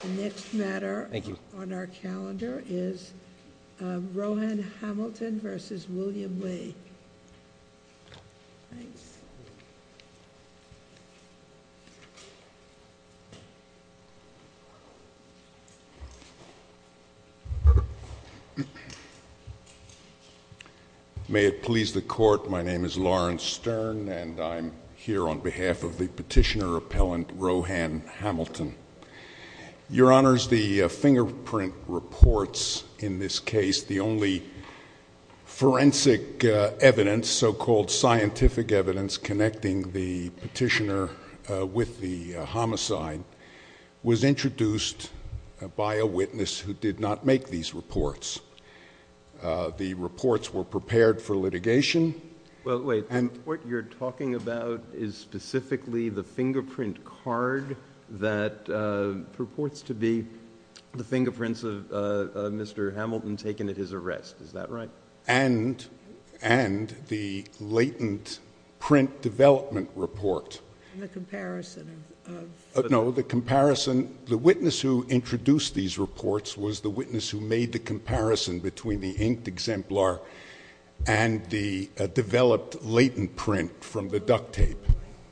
The next matter on our calendar is Rohan Hamilton v. William Lee. May it please the court, my name is Lawrence Stern and I'm here on behalf of the petitioner-appellant Rohan Hamilton. Your honors, the fingerprint reports in this case, the only forensic evidence, so-called scientific evidence connecting the petitioner with the homicide, was introduced by a witness who did not make these reports. The reports were prepared for litigation. Well, wait, what you're talking about is specifically the fingerprint card that purports to be the fingerprints of Mr. Hamilton taken at his arrest, is that right? And the latent print development report. And the comparison of... No, the comparison, the witness who introduced these reports was the witness who made the comparison between the inked exemplar and the developed latent print from the duct tape.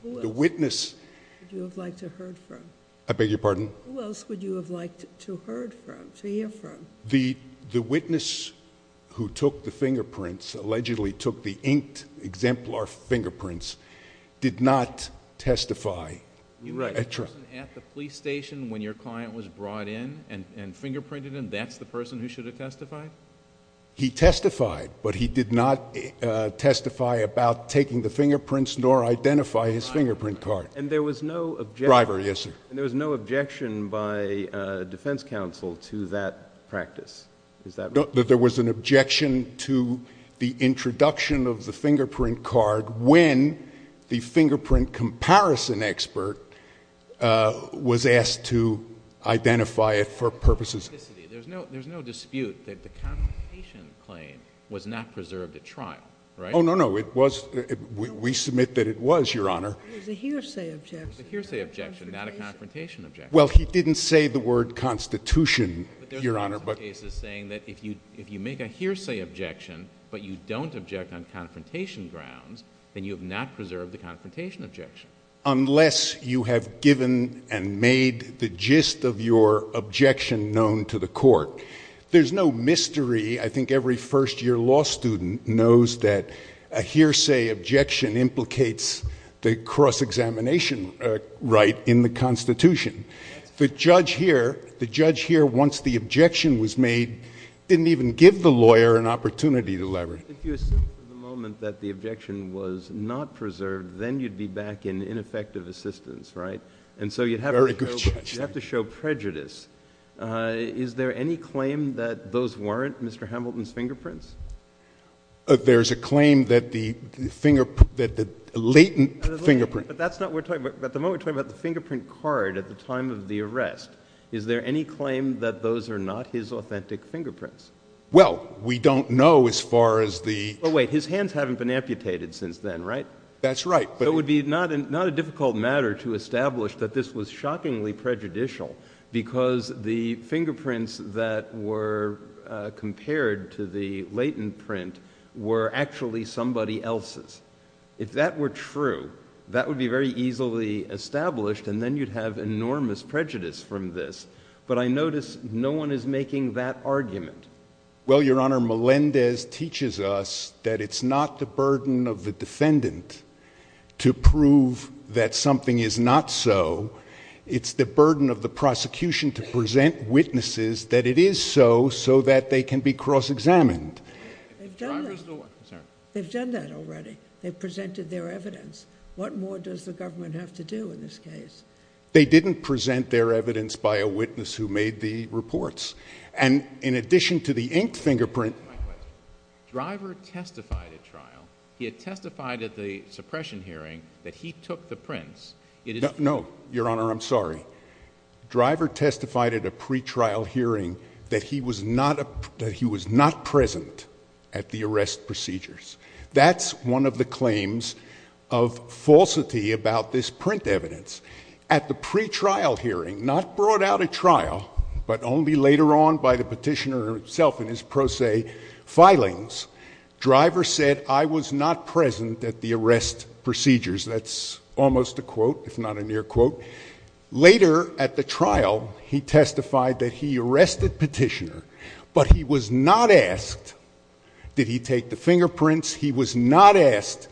Who else would you have liked to heard from? I beg your pardon? Who else would you have liked to heard from, to hear from? The witness who took the fingerprints, allegedly took the inked exemplar fingerprints, did not testify. You're right. The person at the police station when your client was brought in and fingerprinted him, that's the person who should have testified? He testified, but he did not testify about taking the fingerprints nor identify his fingerprint card. And there was no objection by defense counsel to that practice? There was an objection to the introduction of the fingerprint card when the fingerprint comparison expert was asked to identify it for purposes... There's no dispute that the convocation claim was not preserved at trial, right? Oh, no, no. We submit that it was, Your Honor. It was a hearsay objection. It was a hearsay objection, not a confrontation objection. Well, he didn't say the word constitution, Your Honor, but... But there are cases saying that if you make a hearsay objection, but you don't object on confrontation grounds, then you have not preserved the confrontation objection. Unless you have given and made the gist of your objection known to the court. There's no mystery. I think every first-year law student knows that a hearsay objection implicates the cross-examination right in the Constitution. The judge here, once the objection was made, didn't even give the lawyer an opportunity to elaborate. If you assume for the moment that the objection was not preserved, then you'd be back in ineffective assistance, right? Very good, Judge. You have to show prejudice. Is there any claim that those weren't Mr. Hamilton's fingerprints? There's a claim that the latent fingerprint... But that's not what we're talking about. At the moment, we're talking about the fingerprint card at the time of the arrest. Is there any claim that those are not his authentic fingerprints? Well, we don't know as far as the... But wait, his hands haven't been amputated since then, right? That's right, but... It would be not a difficult matter to establish that this was shockingly prejudicial because the fingerprints that were compared to the latent print were actually somebody else's. If that were true, that would be very easily established, and then you'd have enormous prejudice from this. But I notice no one is making that argument. Well, Your Honor, Melendez teaches us that it's not the burden of the defendant to prove that something is not so. It's the burden of the prosecution to present witnesses that it is so, so that they can be cross-examined. They've done that already. They've presented their evidence. What more does the government have to do in this case? They didn't present their evidence by a witness who made the reports. And in addition to the inked fingerprint... Driver testified at trial. He had testified at the suppression hearing that he took the prints. No, Your Honor, I'm sorry. Driver testified at a pretrial hearing that he was not present at the arrest procedures. That's one of the claims of falsity about this print evidence. At the pretrial hearing, not brought out at trial, but only later on by the petitioner himself in his pro se filings, Driver said, I was not present at the arrest procedures. That's almost a quote, if not a near quote. Later at the trial, he testified that he arrested Petitioner, but he was not asked, did he take the fingerprints? He was not asked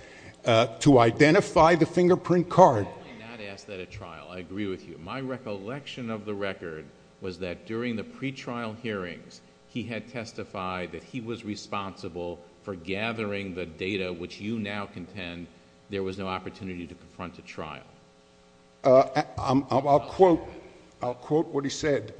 to identify the fingerprint card. I did not ask that at trial. I agree with you. My recollection of the record was that during the pretrial hearings, he had testified that he was responsible for gathering the data which you now contend there was no opportunity to confront at trial. I'll quote what he said.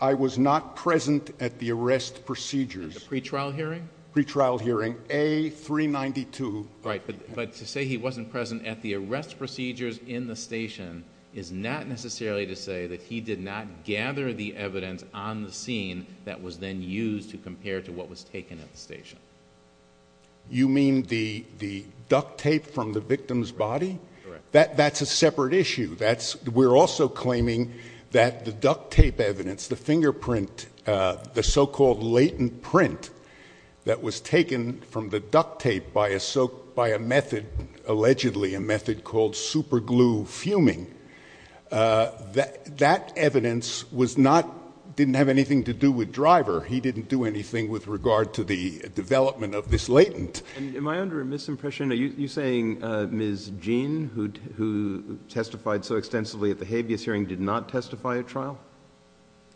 I was not present at the arrest procedures. At the pretrial hearing? Pretrial hearing, A392. But to say he wasn't present at the arrest procedures in the station is not necessarily to say that he did not gather the evidence on the scene that was then used to compare to what was taken at the station. You mean the duct tape from the victim's body? That's a separate issue. We're also claiming that the duct tape evidence, the fingerprint, the so-called latent print that was taken from the duct tape by a method, allegedly a method called superglue fuming, that evidence was not, didn't have anything to do with Driver. He didn't do anything with regard to the development of this latent. Am I under a misimpression? Are you saying Ms. Jean, who testified so extensively at the habeas hearing, did not testify at trial?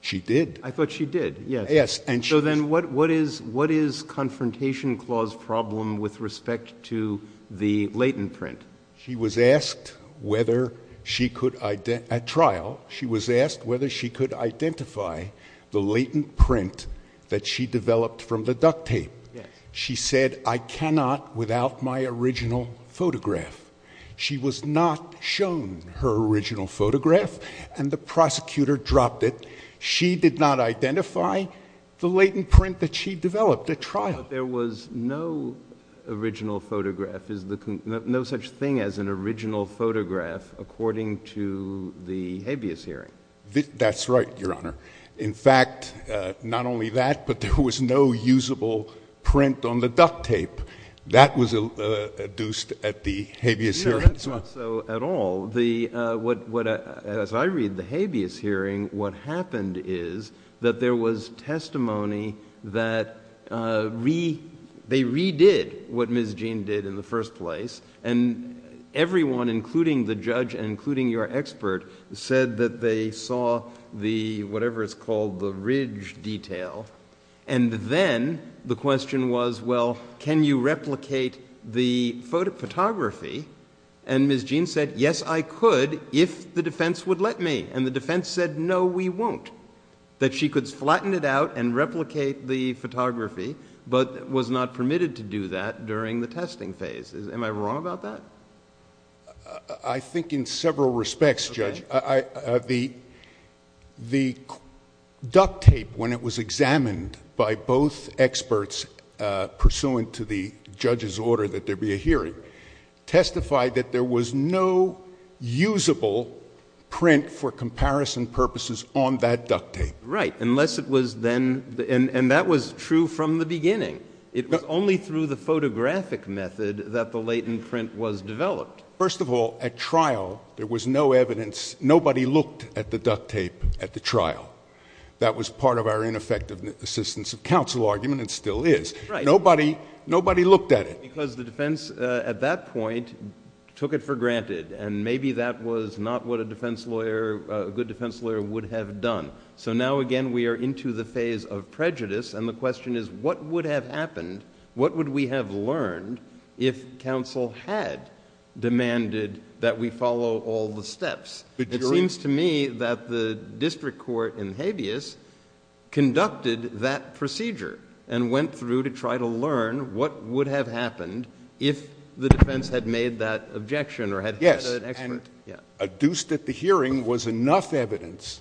She did. I thought she did, yes. So then what is Confrontation Clause problem with respect to the latent print? She was asked whether she could, at trial, she was asked whether she could identify the latent print that she developed from the duct tape. She said, I cannot without my original photograph. She was not shown her original photograph and the prosecutor dropped it. She did not identify the latent print that she developed at trial. But there was no original photograph, no such thing as an original photograph according to the habeas hearing. That's right, Your Honor. In fact, not only that, but there was no usable print on the duct tape. That was adduced at the habeas hearing. No, not so at all. As I read the habeas hearing, what happened is that there was testimony that they redid what Ms. Jean did in the first place. And everyone, including the judge and including your expert, said that they saw the, whatever it's called, the ridge detail. And then the question was, well, can you replicate the photography? And Ms. Jean said, yes, I could if the defense would let me. And the defense said, no, we won't. That she could flatten it out and replicate the photography, but was not permitted to do that during the testing phase. Am I wrong about that? I think in several respects, Judge. The duct tape, when it was examined by both experts pursuant to the judge's order that there be a hearing, testified that there was no usable print for comparison purposes on that duct tape. Right, unless it was then, and that was true from the beginning. It was only through the photographic method that the latent print was developed. First of all, at trial, there was no evidence. Nobody looked at the duct tape at the trial. That was part of our ineffective assistance of counsel argument and still is. Nobody looked at it. Because the defense at that point took it for granted. And maybe that was not what a defense lawyer, a good defense lawyer would have done. So now again, we are into the phase of prejudice. And the question is, what would have happened? What would we have learned if counsel had demanded that we follow all the steps? It seems to me that the district court in Habeas conducted that procedure and went through to try to learn what would have happened if the defense had made that objection or had had an expert. A deuce at the hearing was enough evidence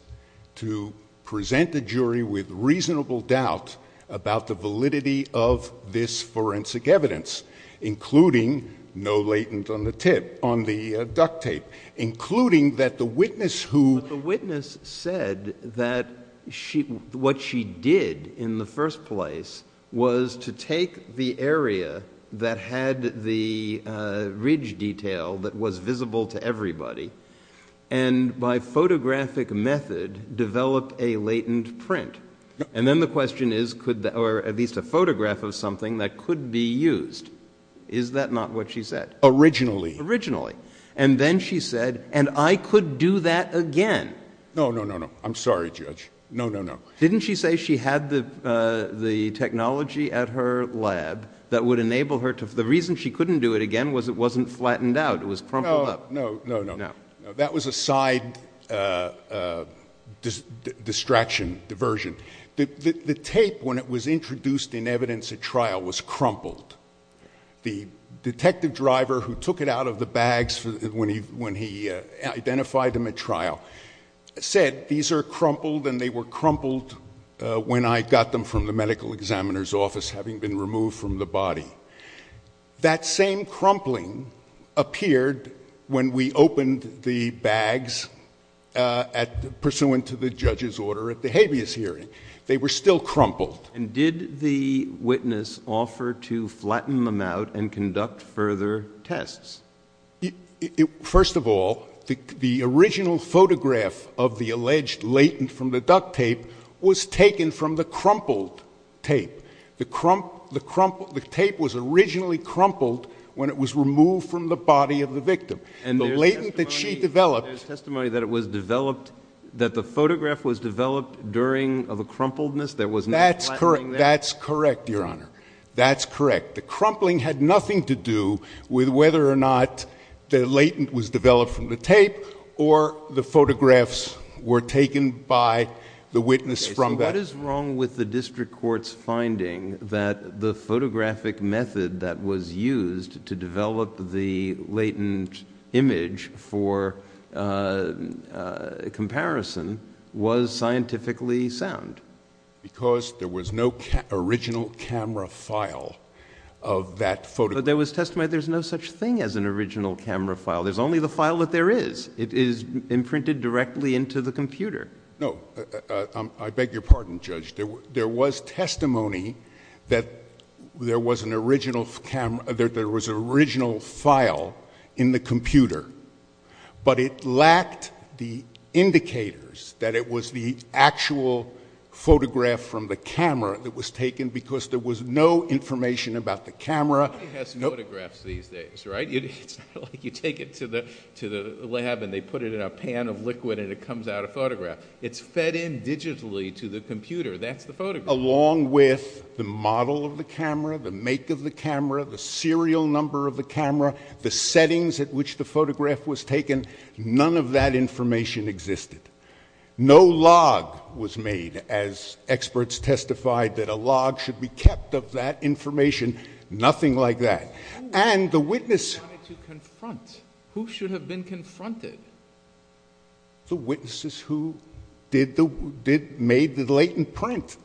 to present the jury with reasonable doubt about the validity of this forensic evidence. Including no latent on the tip, on the duct tape. Including that the witness who... The witness said that what she did in the first place was to take the area that had the ridge detail that was visible to everybody and by photographic method develop a latent print. And then the question is, or at least a photograph of something that could be used. Is that not what she said? Originally. Originally. And then she said, and I could do that again. No, no, no, no. I'm sorry, Judge. No, no, no. Didn't she say she had the technology at her lab that would enable her to... The reason she couldn't do it again was it wasn't flattened out. It was crumpled up. No, no, no. That was a side distraction, diversion. The tape, when it was introduced in evidence at trial, was crumpled. The detective driver who took it out of the bags when he identified him at trial said, these are crumpled and they were crumpled when I got them from the medical examiner's office having been removed from the body. That same crumpling appeared when we opened the bags pursuant to the judge's order at the habeas hearing. They were still crumpled. And did the witness offer to flatten them out and conduct further tests? First of all, the original photograph of the alleged latent from the duct tape was taken from the crumpled tape. The tape was originally crumpled when it was removed from the body of the victim. And the latent that she developed... And there's testimony that it was developed, that the photograph was developed during the crumpledness? That's correct. That's correct, Your Honor. That's correct. The crumpling had nothing to do with whether or not the latent was developed from the tape or the photographs were taken by the witness from that. What is wrong with the district court's finding that the photographic method that was used to develop the latent image for comparison was scientifically sound? Because there was no original camera file of that photograph. But there was testimony that there's no such thing as an original camera file. There's only the file that there is. It is imprinted directly into the computer. No. I beg your pardon, Judge. There was testimony that there was an original camera... that there was an original file in the computer. But it lacked the indicators that it was the actual photograph from the camera that was taken because there was no information about the camera. Nobody has photographs these days, right? It's not like you take it to the lab and they put it in a pan of liquid and it comes out a photograph. It's fed in digitally to the computer. That's the photograph. Along with the model of the camera, the make of the camera, the serial number of the camera, the settings at which the photograph was taken, none of that information existed. No log was made, as experts testified, that a log should be kept of that information. Nothing like that. And the witness... Who should have been confronted? The witnesses who made the latent print.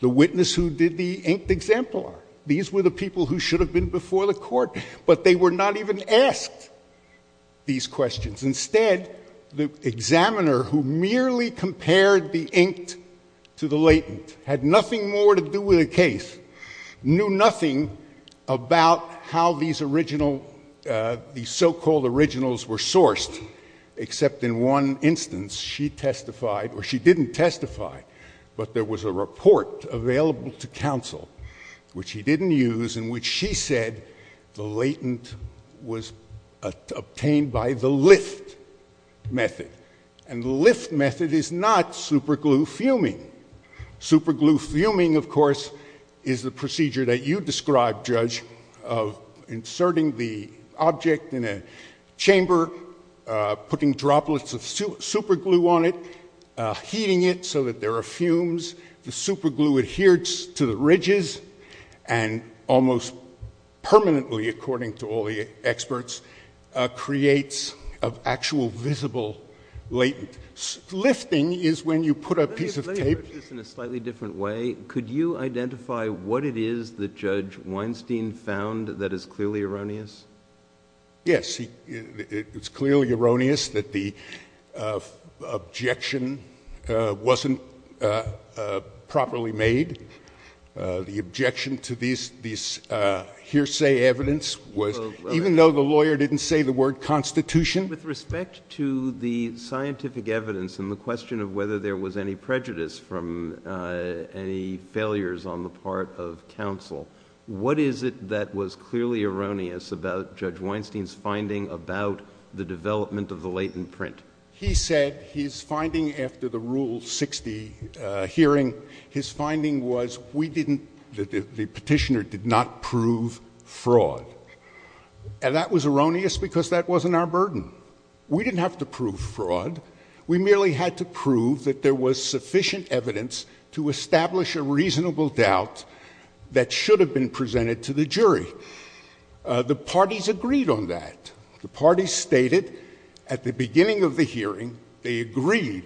The witness who did the inked example art. These were the people who should have been before the court, but they were not even asked these questions. Instead, the examiner who merely compared the inked to the latent, had nothing more to do with the case, knew nothing about how these so-called originals were sourced, except in one instance she testified, or she didn't testify, but there was a report available to counsel, which he didn't use, in which she said the latent was obtained by the lift method. And the lift method is not superglue fuming. Superglue fuming, of course, is the procedure that you described, Judge, of inserting the object in a chamber, putting droplets of superglue on it, heating it so that there are fumes, the superglue adheres to the ridges, and almost permanently, according to all the experts, creates an actual visible latent. Lifting is when you put a piece of tape... Let me approach this in a slightly different way. Could you identify what it is that Judge Weinstein found that is clearly erroneous? Yes. It's clearly erroneous that the objection wasn't properly made. The objection to these hearsay evidence was, even though the lawyer didn't say the word constitution... With respect to the scientific evidence and the question of whether there was any prejudice from any failures on the part of counsel, what is it that was clearly erroneous about Judge Weinstein's finding about the development of the latent print? He said his finding after the Rule 60 hearing, his finding was the petitioner did not prove fraud. And that was erroneous because that wasn't our burden. We didn't have to prove fraud. We merely had to prove that there was sufficient evidence to establish a reasonable doubt that should have been presented to the jury. The parties agreed on that. The parties stated at the beginning of the hearing, they agreed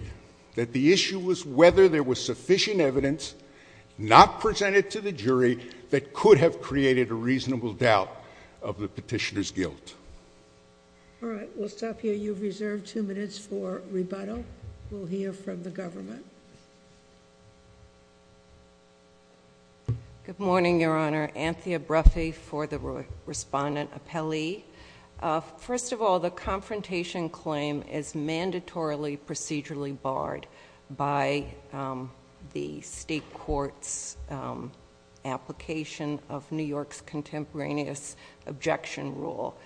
that the issue was whether there was sufficient evidence not presented to the jury that could have created a reasonable doubt of the petitioner's guilt. All right. We'll stop here. You've reserved two minutes for rebuttal. We'll hear from the government. Good morning, Your Honor. Anthea Bruffy for the Respondent Appellee. First of all, the confrontation claim is mandatorily procedurally barred by the state court's application of New York's contemporaneous objection rule.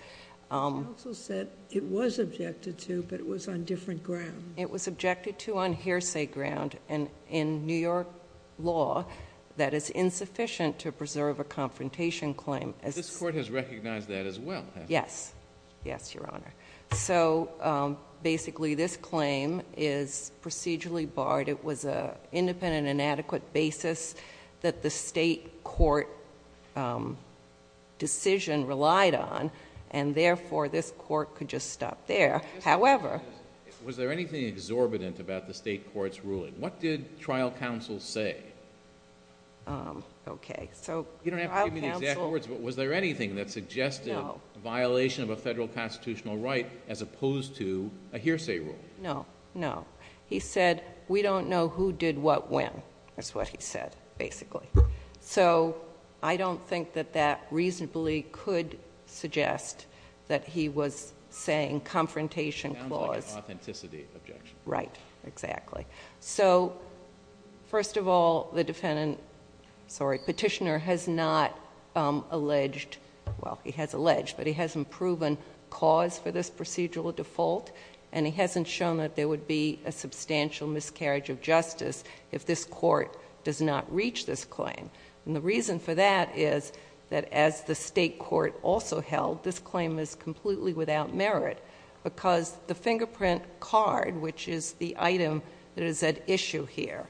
Counsel said it was objected to, but it was on different grounds. It was objected to on hearsay ground. In New York law, that is insufficient to preserve a confrontation claim. This court has recognized that as well. Yes. Yes, Your Honor. Basically, this claim is procedurally barred. It was an independent, inadequate basis that the state court decision relied on. Therefore, this court could just stop there. However... Was there anything exorbitant about the state court's ruling? What did trial counsel say? Okay. So... You don't have to give me the exact words, but was there anything that suggested a violation of a federal constitutional right as opposed to a hearsay rule? No. No. He said, we don't know who did what when. That's what he said, basically. So, I don't think that that reasonably could suggest that he was saying confrontation clause. It sounds like an authenticity objection. Right. Exactly. So, first of all, the defendant... Sorry. Petitioner has not alleged... Well, he has alleged, but he hasn't proven cause for this procedural default. And he hasn't shown that there would be a substantial miscarriage of justice if this court does not reach this claim. And the reason for that is that as the state court also held, this claim is completely without merit. Because the fingerprint card, which is the item that is at issue here,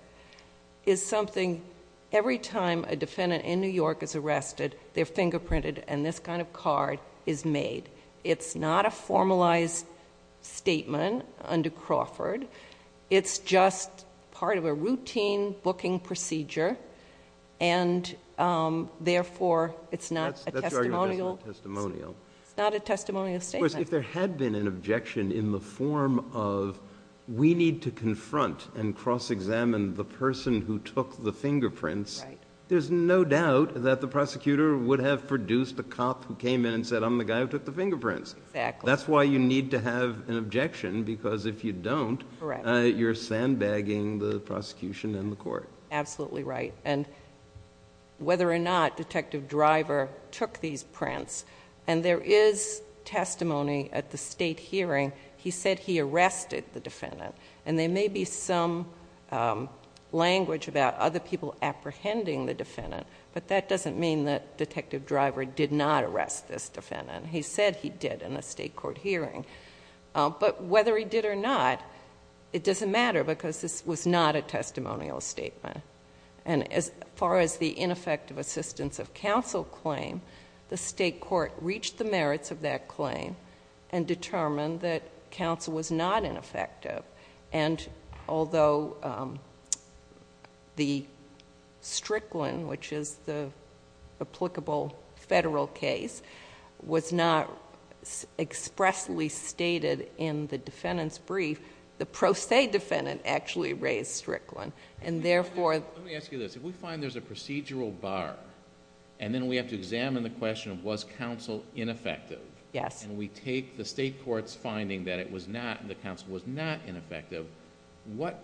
is something, every time a defendant in New York is arrested, they're fingerprinted and this kind of card is made. It's not a formalized statement under Crawford. It's just part of a routine booking procedure. And, therefore, it's not a testimonial... That's arguably not testimonial. It's not a testimonial statement. So, if you put in an objection in the form of, we need to confront and cross-examine the person who took the fingerprints, there's no doubt that the prosecutor would have produced a cop who came in and said, I'm the guy who took the fingerprints. Exactly. That's why you need to have an objection, because if you don't, you're sandbagging the prosecution and the court. Absolutely right. And whether or not Detective Driver took these prints, and there is testimony at the state hearing, he said he arrested the defendant. And there may be some language about other people apprehending the defendant, but that doesn't mean that Detective Driver did not arrest this defendant. He said he did in a state court hearing. But whether he did or not, it doesn't matter, because this was not a testimonial statement. And as far as the ineffective assistance of counsel claim, the state court reached the merits of that claim and determined that counsel was not ineffective. And although the Strickland, which is the applicable federal case, was not expressly stated in the defendant's brief, the pro se defendant actually raised Strickland. And therefore... Let me ask you this. If we find there's a procedural bar, and then we have to examine the question of was counsel ineffective, and we take the state court's finding that it was not, that counsel was not ineffective, what...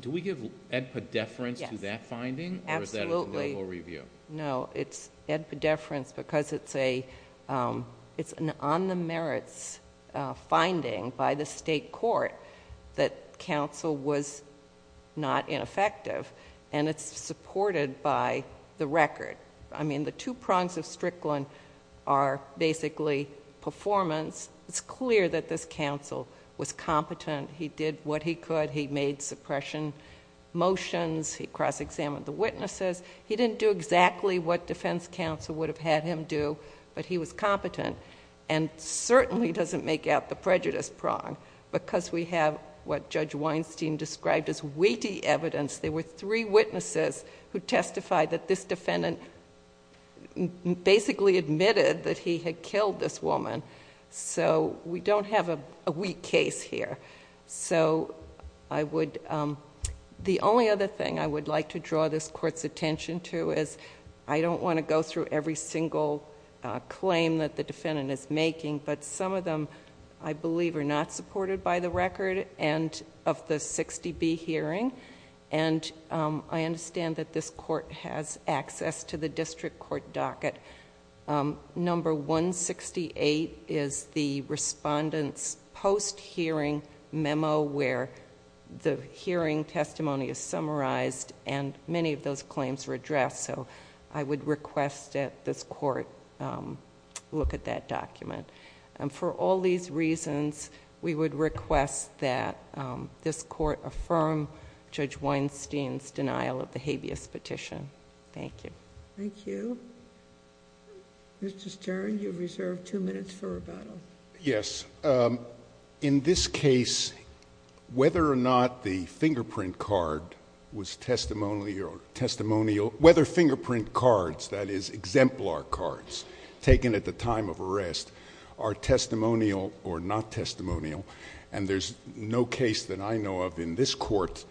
do we give edpedeference to that finding? Yes. Absolutely. Or is that a global review? No, it's edpedeference because it's an on the merits finding by the state court that counsel was not ineffective. And it's supported by the record. I mean, the two prongs of Strickland are basically performance. It's clear that this counsel was competent. He did what he could. He made suppression motions. He cross-examined the witnesses. He didn't do exactly what defense counsel would have had him do, but he was competent. And certainly doesn't make out the prejudice prong, because we have what Judge Weinstein described as weighty evidence. There were three witnesses who testified that this defendant basically admitted that he had killed this woman. So we don't have a weak case here. So I would... The only other thing I would like to draw this court's attention to is I don't want to go through every single claim that the defendant is making, but some of them I believe are not supported by the record and of the 60B hearing. And I understand that this court has access to the district court docket. Number 168 is the respondent's post-hearing memo where the hearing testimony is summarized, and many of those claims were addressed. So I would request that this court look at that document. And for all these reasons, we would request that this court affirm Judge Weinstein's denial of the habeas petition. Thank you. Thank you. Mr. Stern, you have reserved two minutes for rebuttal. Yes. In this case, whether or not the fingerprint card was testimonial... Whether fingerprint cards, that is, exemplar cards taken at the time of arrest, are testimonial or not testimonial. And there's no case that I know of in this court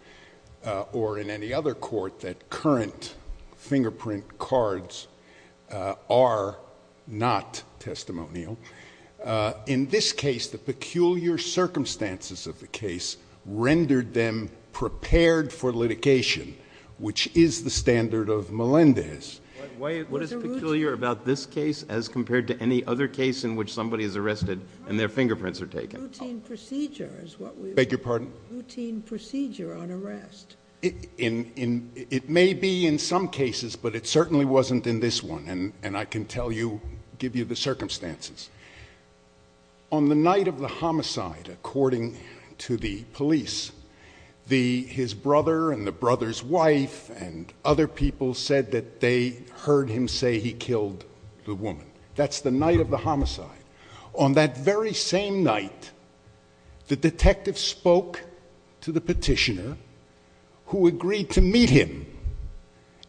or in any other court that current fingerprint cards are not testimonial. In this case, the peculiar circumstances of the case rendered them prepared for litigation, which is the standard of Melendez. What is peculiar about this case as compared to any other case in which somebody is arrested and their fingerprints are taken? Routine procedure is what we... Beg your pardon? Routine procedure on arrest. It may be in some cases, but it certainly wasn't in this one. And I can tell you, give you the circumstances. On the night of the homicide, according to the police, his brother and the brother's wife and other people said that they heard him say he killed the woman. That's the night of the homicide. On that very same night, the detective spoke to the petitioner who agreed to meet him.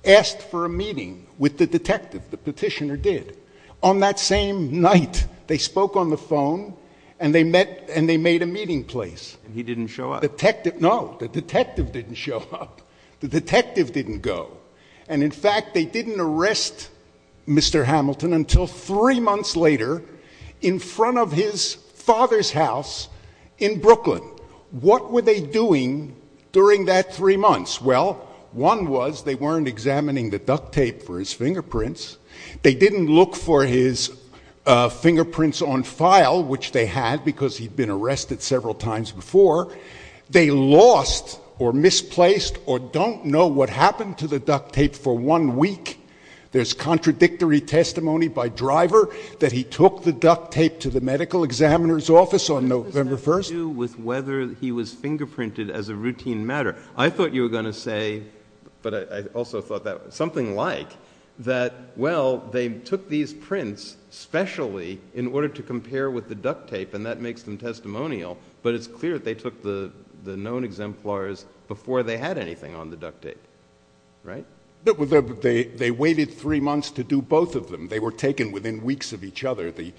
Asked for a meeting with the detective. The petitioner did. On that same night, they spoke on the phone and they made a meeting place. And he didn't show up? No, the detective didn't show up. The detective didn't go. And in fact, they didn't arrest Mr. Hamilton until three months later in front of his father's house in Brooklyn. What were they doing during that three months? Well, one was they weren't examining the duct tape for his fingerprints. They didn't look for his fingerprints on file, which they had because he'd been arrested several times before. They lost or misplaced or don't know what happened to the duct tape for one week. There's contradictory testimony by Driver that he took the duct tape to the medical examiner's office on November 1st. This has nothing to do with whether he was fingerprinted as a routine matter. I thought you were going to say, but I also thought that, something like that, well, they took these prints specially in order to compare with the duct tape and that makes them testimonial. But it's clear that they took the known exemplars before they had anything on the duct tape, right? They waited three months to do both of them. They were taken within weeks of each other. The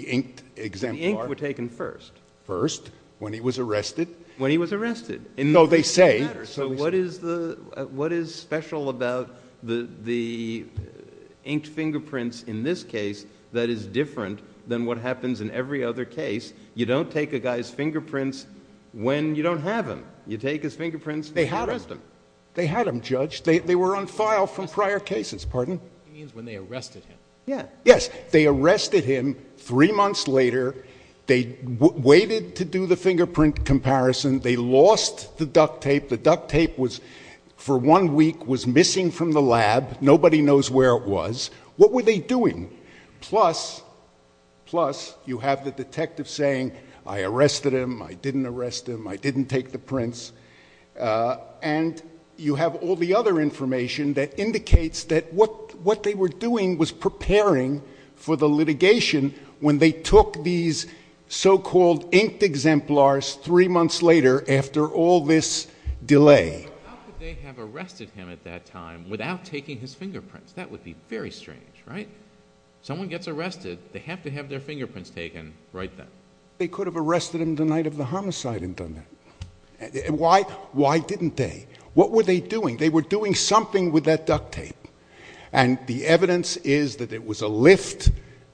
inked exemplar... The ink were taken first. First, when he was arrested? When he was arrested. No, they say... So what is special about the inked fingerprints in this case that is different than what happens in every other case? You don't take a guy's fingerprints when you don't have them. You take his fingerprints when you arrest him. They had them, Judge. They were on file from prior cases. Pardon? He means when they arrested him. Yes. They arrested him three months later. They waited to do the fingerprint comparison. They lost the duct tape. The duct tape was, for one week, was missing from the lab. Nobody knows where it was. What were they doing? Plus, you have the detective saying, I arrested him, I didn't arrest him, I didn't take the prints. And you have all the other information that indicates that what they were doing was preparing for the litigation when they took these so-called inked exemplars three months later after all this delay. How could they have arrested him at that time without taking his fingerprints? That would be very strange, right? Someone gets arrested, they have to have their fingerprints taken right then. They could have arrested him the night of the homicide and done that. Why didn't they? What were they doing? They were doing something with that duct tape. And the evidence is that it was a lift,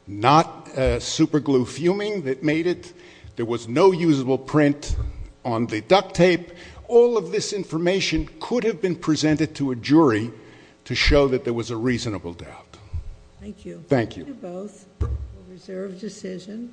not superglue fuming that made it. There was no usable print on the duct tape. All of this information could have been presented to a jury to show that there was a reasonable doubt. Thank you both. We'll reserve decision.